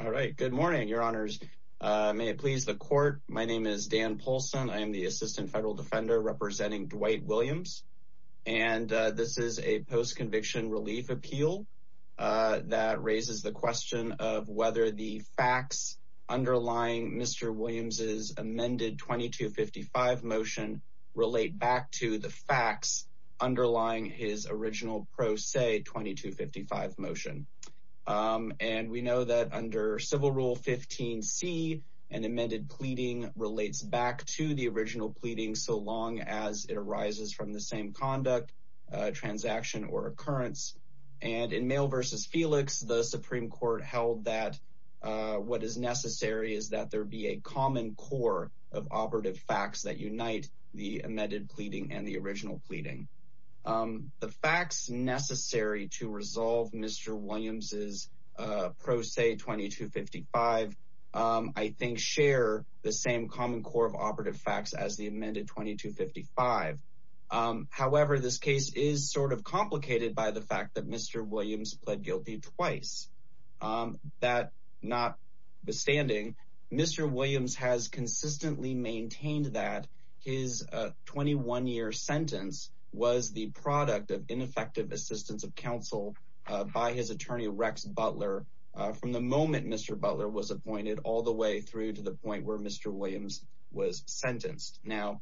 All right. Good morning, your honors. May it please the court. My name is Dan Paulson. I am the assistant federal defender representing Dwight Williams. And this is a post-conviction relief appeal that raises the question of whether the facts underlying Mr. Williams's amended 2255 motion relate back to the facts underlying his original pro se 2255 motion. And we know that under civil rule 15 C and amended pleading relates back to the original pleading so long as it arises from the same conduct, transaction or occurrence. And in mail versus Felix, the Supreme Court held that what is necessary is that there be a common core of operative facts that unite the amended pleading and the original pleading. The facts necessary to resolve Mr. Williams 2255, I think, share the same common core of operative facts as the amended 2255. However, this case is sort of complicated by the fact that Mr. Williams pled guilty twice. That not withstanding, Mr. Williams has consistently maintained that his 21 year sentence was the product of ineffective assistance of counsel by his attorney Rex Butler. From the moment Mr. Butler was appointed all the way through to the point where Mr. Williams was sentenced. Now,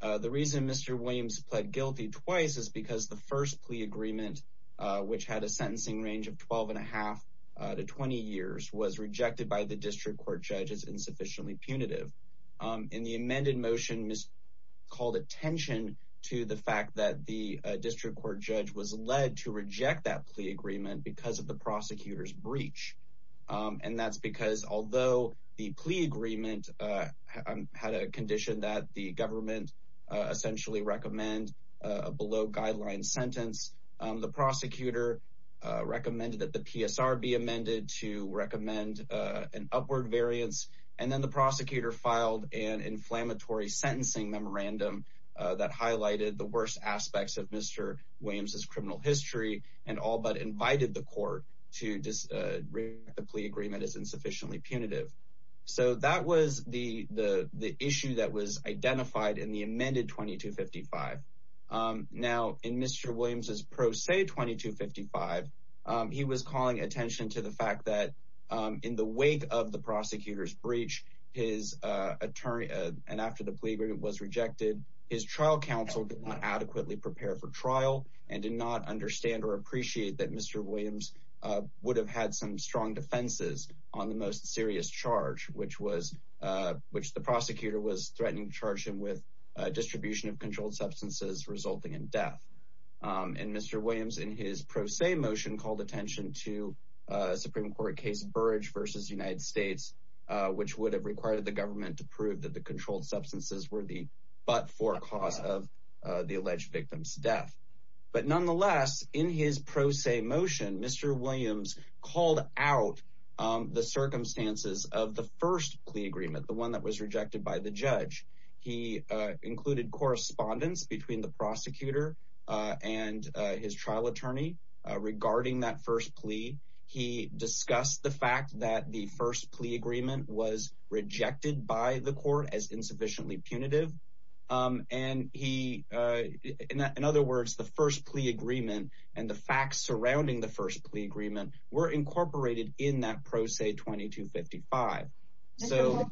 the reason Mr. Williams pled guilty twice is because the first plea agreement, which had a sentencing range of 12 and a half to 20 years, was rejected by the district court judges insufficiently punitive in the amended motion is called attention to the fact that the And that's because although the plea agreement had a condition that the government essentially recommend below guideline sentence, the prosecutor recommended that the PSR be amended to recommend an upward variance. And then the prosecutor filed an inflammatory sentencing memorandum that highlighted the worst aspects of Mr. Williams's criminal history and all but invited the court to just the plea agreement is insufficiently punitive. So that was the issue that was identified in the amended 2255. Now, in Mr. Williams's pro se 2255, he was calling attention to the fact that in the wake of the prosecutor's breach, his attorney, and after the plea agreement was rejected, his trial counsel did not adequately prepare for trial and did not understand or appreciate that Mr. Williams would have had some strong defenses on the most serious charge, which was which the prosecutor was threatening to charge him with distribution of controlled substances resulting in death. And Mr. Williams in his pro se motion called attention to Supreme Court case Burrage versus United States, which would have required the government to prove that the controlled substances were the but for cause of the but nonetheless, in his pro se motion, Mr. Williams called out the circumstances of the first plea agreement, the one that was rejected by the judge, he included correspondence between the prosecutor and his trial attorney. Regarding that first plea, he discussed the fact that the first plea agreement was rejected by the court as insufficiently punitive. And he in other words, the first plea agreement, and the facts surrounding the first plea agreement were incorporated in that pro se 2255. So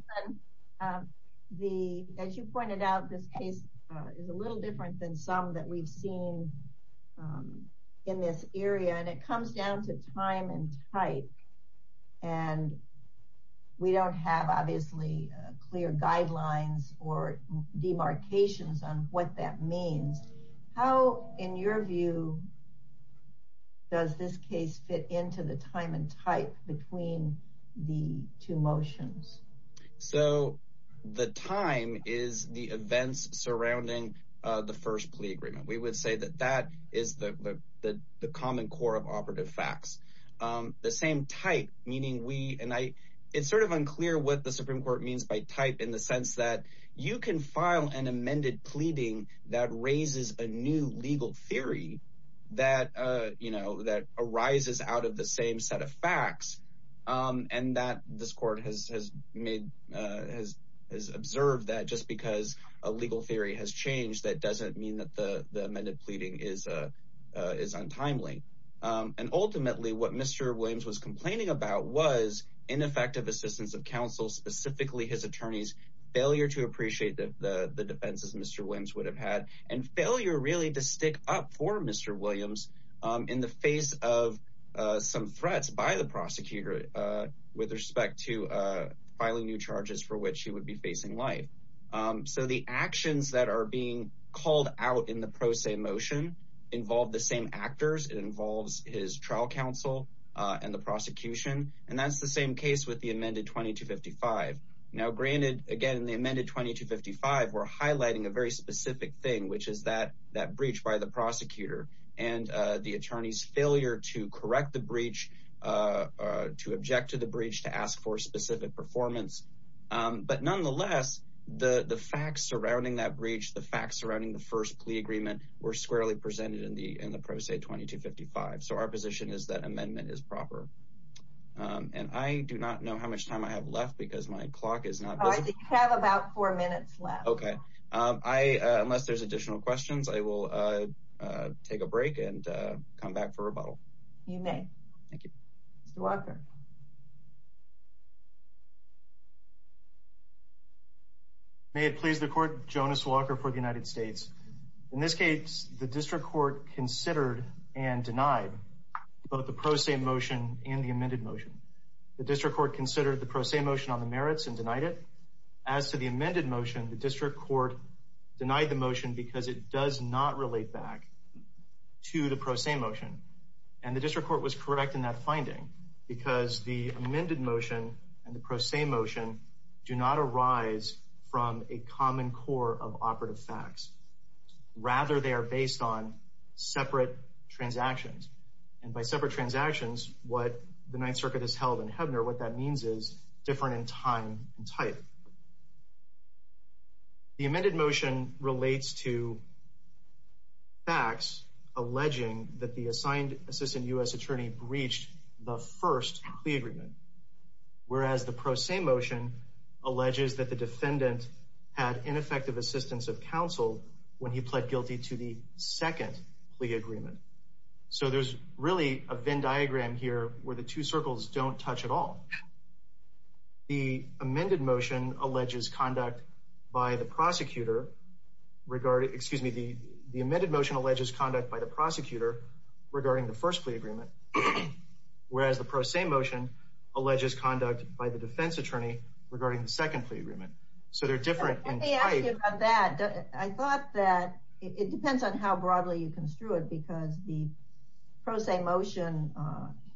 the as you pointed out, this case is a little different than some that we've seen in this area, and it comes down to time and height. And we don't have clear guidelines or demarcations on what that means. How in your view, does this case fit into the time and type between the two motions? So the time is the events surrounding the first plea agreement, we would say that that is the common core of operative facts, the same type, meaning we and I, it's sort of unclear what the Supreme Court means by type in the sense that you can file an amended pleading that raises a new legal theory that, you know, that arises out of the same set of facts. And that this court has made, has observed that just because a legal theory has changed, that doesn't mean that the the amended pleading is, is untimely. And ultimately, what Mr. Williams was complaining about was ineffective assistance of counsel, specifically his attorneys, failure to appreciate the defenses Mr. Williams would have had, and failure really to stick up for Mr. Williams in the face of some threats by the prosecutor with respect to filing new charges for which he would be facing life. So the actions that are being called out in the pro se motion involve the same actors, it involves his trial counsel and the prosecution. And that's the same case with the amended 2255. Now granted, again, in the amended 2255, we're highlighting a very specific thing, which is that, that breach by the prosecutor, and the attorney's failure to correct the breach, to object to the breach to ask for specific performance. But nonetheless, the the facts surrounding that breach, the facts surrounding the first plea agreement were squarely presented in the in the pro se 2255. So our position is that amendment is proper. And I do not know how much time I have left because my clock is not busy. I have about four minutes left. Okay. I, unless there's additional questions, I will take a break and come back for rebuttal. You may. Thank you. Thank you. Thank you. Thank you, Mr. Chairman. I'm a member of the district court Jonas Walker for the United States. In this case, the district court considered and denied both the pro se motion and the amended motion. The district court considered the pro se motion on the merits and denied it. As to the amended motion, the district court denied the motion because it does not relate back to the pro se motion. And the district court was correct in that finding because the amended motion and the pro se motion do not arise from a common core of operative facts. Rather, they are based on separate transactions. And by separate transactions, what the Ninth Circuit has held in Hebner, what that means is different in time and type. The amended motion relates to facts alleging that the assigned assistant U.S. attorney breached the first plea agreement, whereas the pro se motion alleges that the defendant had ineffective assistance of counsel when he pled guilty to the second plea agreement. So there's really a Venn diagram here where the two circles don't touch at all. The amended motion alleges conduct by the prosecutor regarding, excuse me, the amended motion alleges conduct by the prosecutor regarding the first plea agreement, whereas the pro se motion alleges conduct by the defense attorney regarding the second plea agreement. So they're different in type. Let me ask you about that. I thought that it depends on how broadly you construe it because the pro se motion,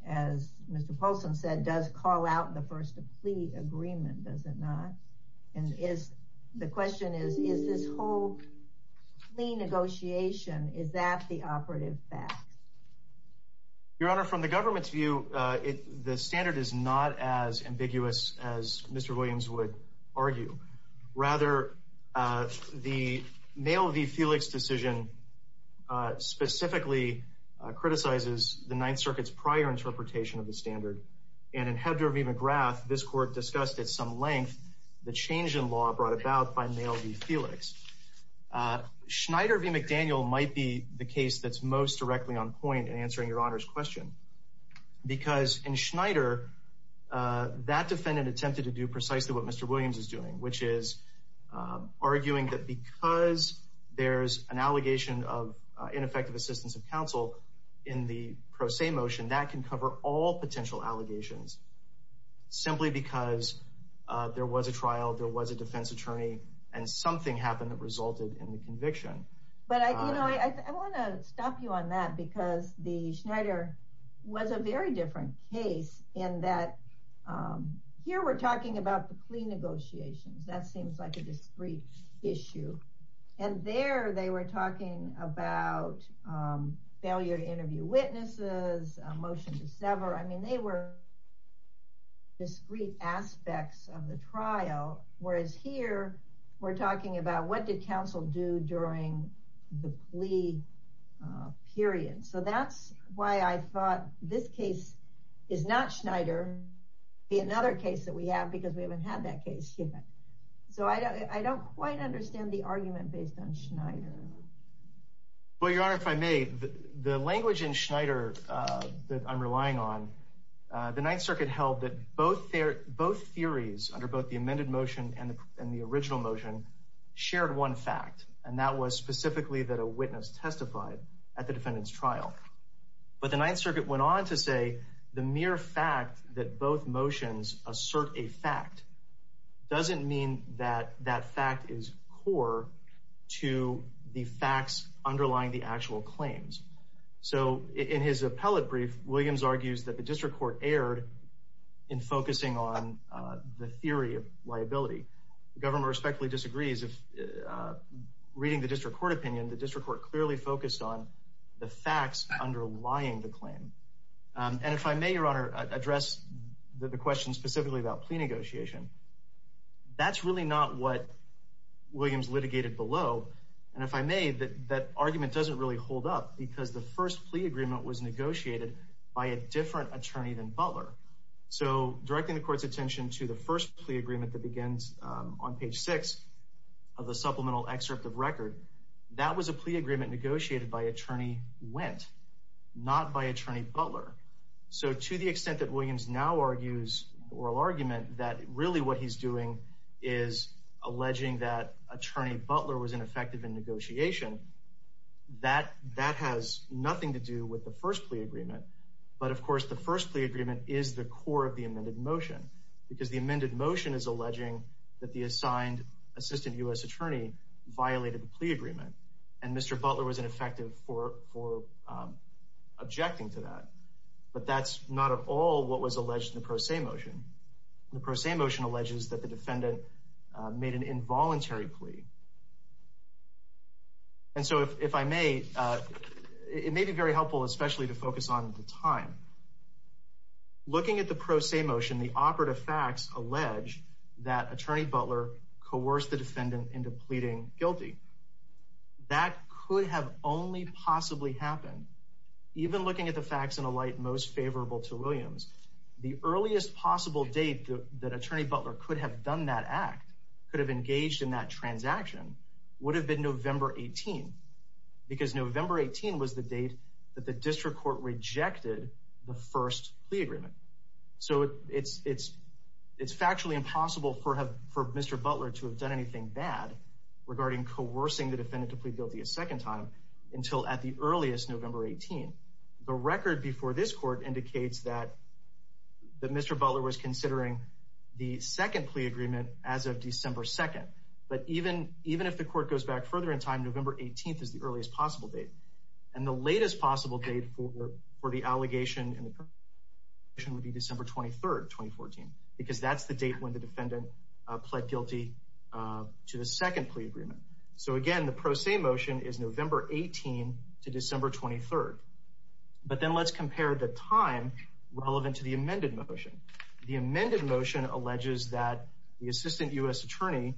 as Mr. Polson said, does call out the first plea agreement, does it not? And the question is, is this whole plea negotiation, is that the operative fact? Your Honor, from the government's view, the standard is not as ambiguous as Mr. Williams would argue. Rather, the mail v. Felix decision specifically criticizes the Ninth Circuit's prior interpretation of the standard. And in Hebner v. McGrath, this court discussed at some length the change in law brought about by mail v. Felix. Schneider v. McDaniel might be the case that's most directly on point in answering Your Honor's question. Because in Schneider, that defendant attempted to do precisely what Mr. Williams is doing, which is arguing that because there's an allegation of ineffective assistance of counsel in the pro allegations, simply because there was a trial, there was a defense attorney, and something happened that resulted in the conviction. But I want to stop you on that because the Schneider was a very different case in that here we're talking about the plea negotiations. That seems like a discrete issue. And there they were talking about failure to interview witnesses, a motion to sever. I mean, they were discrete aspects of the trial. Whereas here, we're talking about what did counsel do during the plea period. So that's why I thought this case is not Schneider, be another case that we have because we haven't had that case yet. So I don't quite understand the argument based on Schneider. Well, Your Honor, if I may, the language in Schneider that I'm relying on, the Ninth Circuit held that both theories under both the amended motion and the original motion shared one fact, and that was specifically that a witness testified at the defendant's trial. But the Ninth Circuit went on to say the mere fact that both motions assert a fact doesn't mean that that fact is core to the facts underlying the actual claims. So in his appellate brief, Williams argues that the district court erred in focusing on the theory of liability. The government respectfully disagrees. If reading the district court opinion, the district court clearly focused on the facts underlying the claim. And if I may, Your Honor, address the question specifically about plea negotiation. That's really not what Williams litigated below. And if I may, that argument doesn't really hold up because the first plea agreement was negotiated by a different attorney than Butler. So directing the court's attention to the first plea agreement that begins on page six of the supplemental excerpt of record, that was a plea agreement negotiated by attorney Wendt, not by attorney Butler. So to the extent that Williams now argues oral argument that really what he's doing is alleging that attorney Butler was ineffective in negotiation, that has nothing to do with the first plea agreement. But of course, the first plea agreement is the core of the amended motion because the amended motion is alleging that the assigned assistant U.S. attorney violated the plea agreement. And Mr. Butler was ineffective for objecting to that. But that's not at all what was alleged in the pro se motion. The pro se motion alleges that the defendant made an involuntary plea. And so if I may, it may be very helpful especially to focus on the time. Looking at the pro se motion, the operative facts allege that attorney Butler coerced the defendant into pleading guilty. That could have only possibly happened even looking at the facts in a light most favorable to Williams. The earliest possible date that attorney Butler could have done that act, could have engaged in that transaction, would have been November 18. Because November 18 was the date that the district court rejected the first plea agreement. So it's factually impossible for Mr. Butler to have done anything bad regarding coercing the defendant to plead guilty a second time until at the earliest November 18. The record before this court indicates that Mr. Butler was considering the second plea agreement as of December 2. But even if the court goes back further in time, November 18 is the earliest possible date. And the latest possible date for the allegation in the motion would be December 23, 2014. Because that's the date when the defendant pled guilty to the second plea agreement. So again, the pro se motion is November 18 to December 23. But then let's compare the time relevant to the amended motion. The amended motion alleges that the assistant U.S. attorney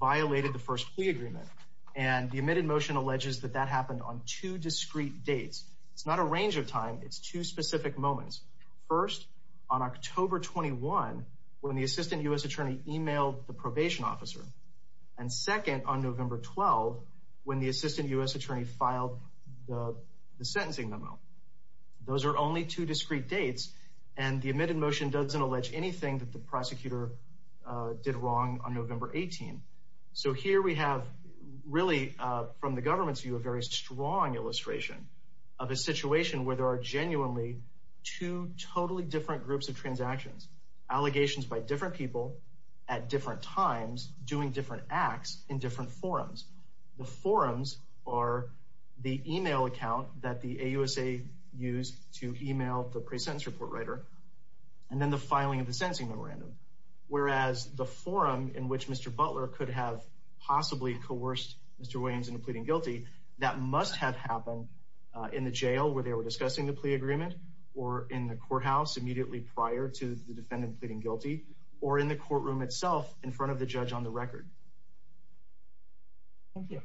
violated the first plea agreement. And the range of time, it's two specific moments. First, on October 21, when the assistant U.S. attorney emailed the probation officer. And second, on November 12, when the assistant U.S. attorney filed the sentencing memo. Those are only two discrete dates. And the amended motion doesn't allege anything that the prosecutor did wrong on November 18. So here we have really, from the situation where there are genuinely two totally different groups of transactions. Allegations by different people at different times doing different acts in different forums. The forums are the email account that the AUSA used to email the pre-sentence report writer. And then the filing of the sentencing memorandum. Whereas the forum in which Mr. Butler could have possibly coerced Mr. Williams into where they were discussing the plea agreement. Or in the courthouse immediately prior to the defendant pleading guilty. Or in the courtroom itself in front of the judge on the record. Thank you.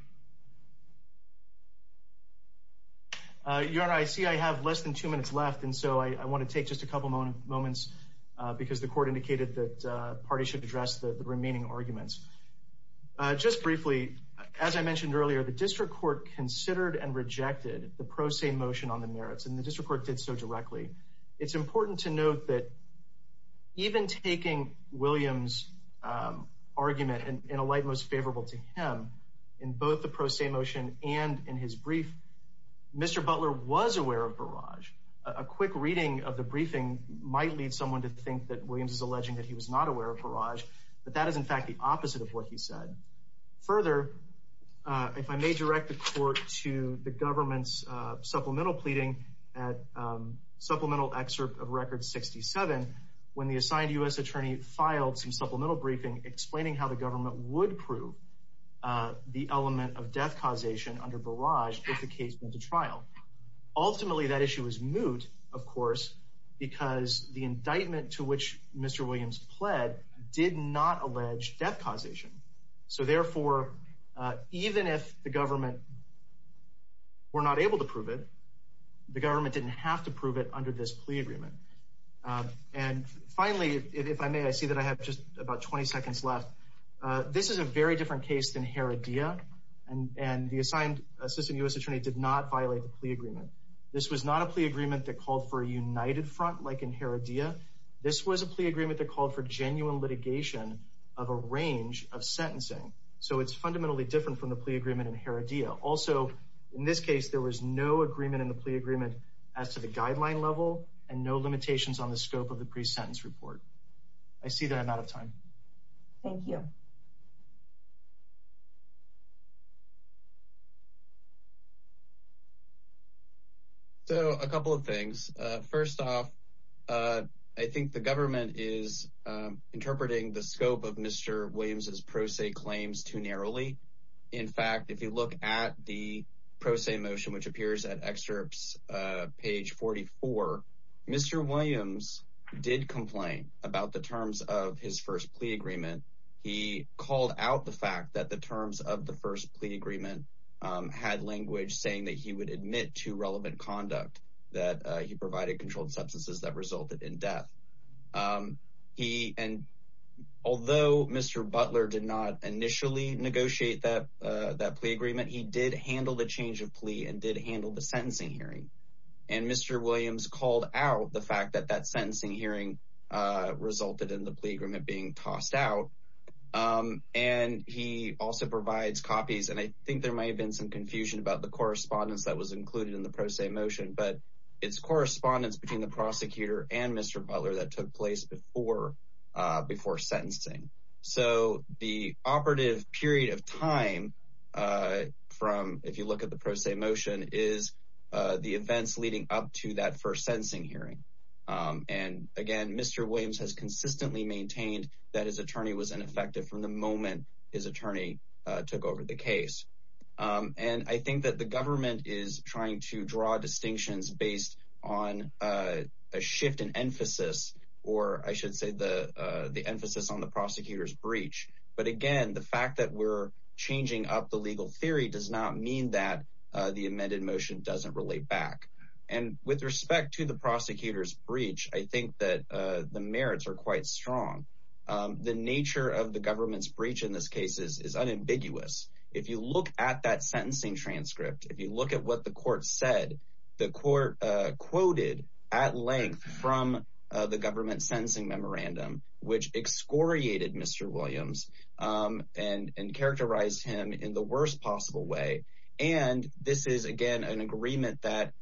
Your Honor, I see I have less than two minutes left. And so I want to take just a couple moments because the court indicated that parties should address the remaining arguments. Just briefly, as I mentioned earlier, the district court considered and rejected the merits. And the district court did so directly. It's important to note that even taking Williams' argument in a light most favorable to him in both the pro se motion and in his brief, Mr. Butler was aware of barrage. A quick reading of the briefing might lead someone to think that Williams is alleging that he was not aware of barrage. But that is, in fact, the opposite of what he said. Further, if I may direct the court to the government's supplemental pleading at supplemental excerpt of record 67, when the assigned U.S. attorney filed some supplemental briefing explaining how the government would prove the element of death causation under barrage if the case went to trial. Ultimately, that issue was moot, of course, because the indictment to which Mr. Williams pled did not allege death causation. So therefore, even if the government were not able to prove it, the government didn't have to prove it under this plea agreement. And finally, if I may, I see that I have just about 20 seconds left. This is a very different case than Heredia, and the assigned assistant U.S. attorney did not violate the plea agreement. This was not a plea agreement that called for a united front like in Heredia. This was a plea agreement that called for genuine litigation of a range of sentencing. So it's fundamentally different from the plea agreement in Heredia. Also, in this case, there was no agreement in the plea agreement as to the guideline level and no limitations on the scope of the pre-sentence report. I see that I'm out of time. Thank you. So a couple of things. First off, I think the government is interpreting the scope of Mr. Williams's pro se claims too narrowly. In fact, if you look at the pro se motion, which appears at excerpts page 44, Mr. Williams did complain about the terms of his first plea agreement. He called out the fact that the terms of the first plea agreement had language saying that he would admit to relevant conduct, that he provided controlled substances that resulted in death. Although Mr. Butler did not initially negotiate that plea agreement, he did handle the change of plea and did handle the sentencing hearing. And Mr. Williams called out the fact that that sentencing hearing resulted in the plea agreement being tossed out. And he also provides copies. And I think there might have been some confusion about the correspondence that was included in the pro se motion, but it's correspondence between the prosecutor and Mr. Butler that took place before sentencing. So the operative period of time from, if you look at the pro se motion, is the events leading up to that first sentencing hearing. And again, Mr. Williams has consistently maintained that his attorney was ineffective from the moment his attorney took over the case. And I think that the government is trying to draw distinctions based on a shift in emphasis, or I should say the emphasis on the prosecutor's breach. But again, the fact that we're changing up the legal theory does not mean that the amended motion doesn't relate back. And with respect to the prosecutor's breach, I think that the merits are quite strong. The nature of the government's breach in this case is unambiguous. If you look at that sentencing transcript, if you look at what the court said, the court quoted at length from the government sentencing memorandum, which excoriated Mr. Williams and characterized him in the worst possible way. And this is again, an agreement that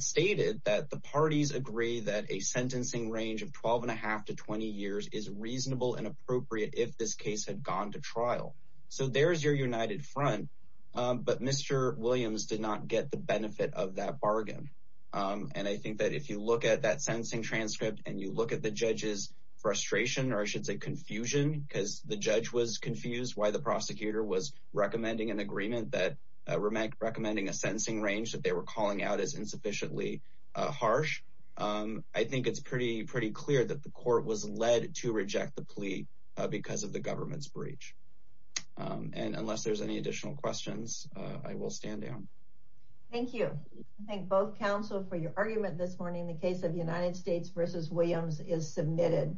stated that the parties agree that a sentencing range of 12 and a half to 20 years is reasonable and appropriate if this case had gone to trial. So there's your united front. But Mr. Williams did not get the benefit of that bargain. And I think that if you look at that frustration, or I should say confusion, because the judge was confused why the prosecutor was recommending an agreement that recommending a sentencing range that they were calling out as insufficiently harsh, I think it's pretty clear that the court was led to reject the plea because of the government's breach. And unless there's any additional questions, I will stand down. Thank you. I thank both counsel for your argument this morning. The case of United States versus Williams is submitted.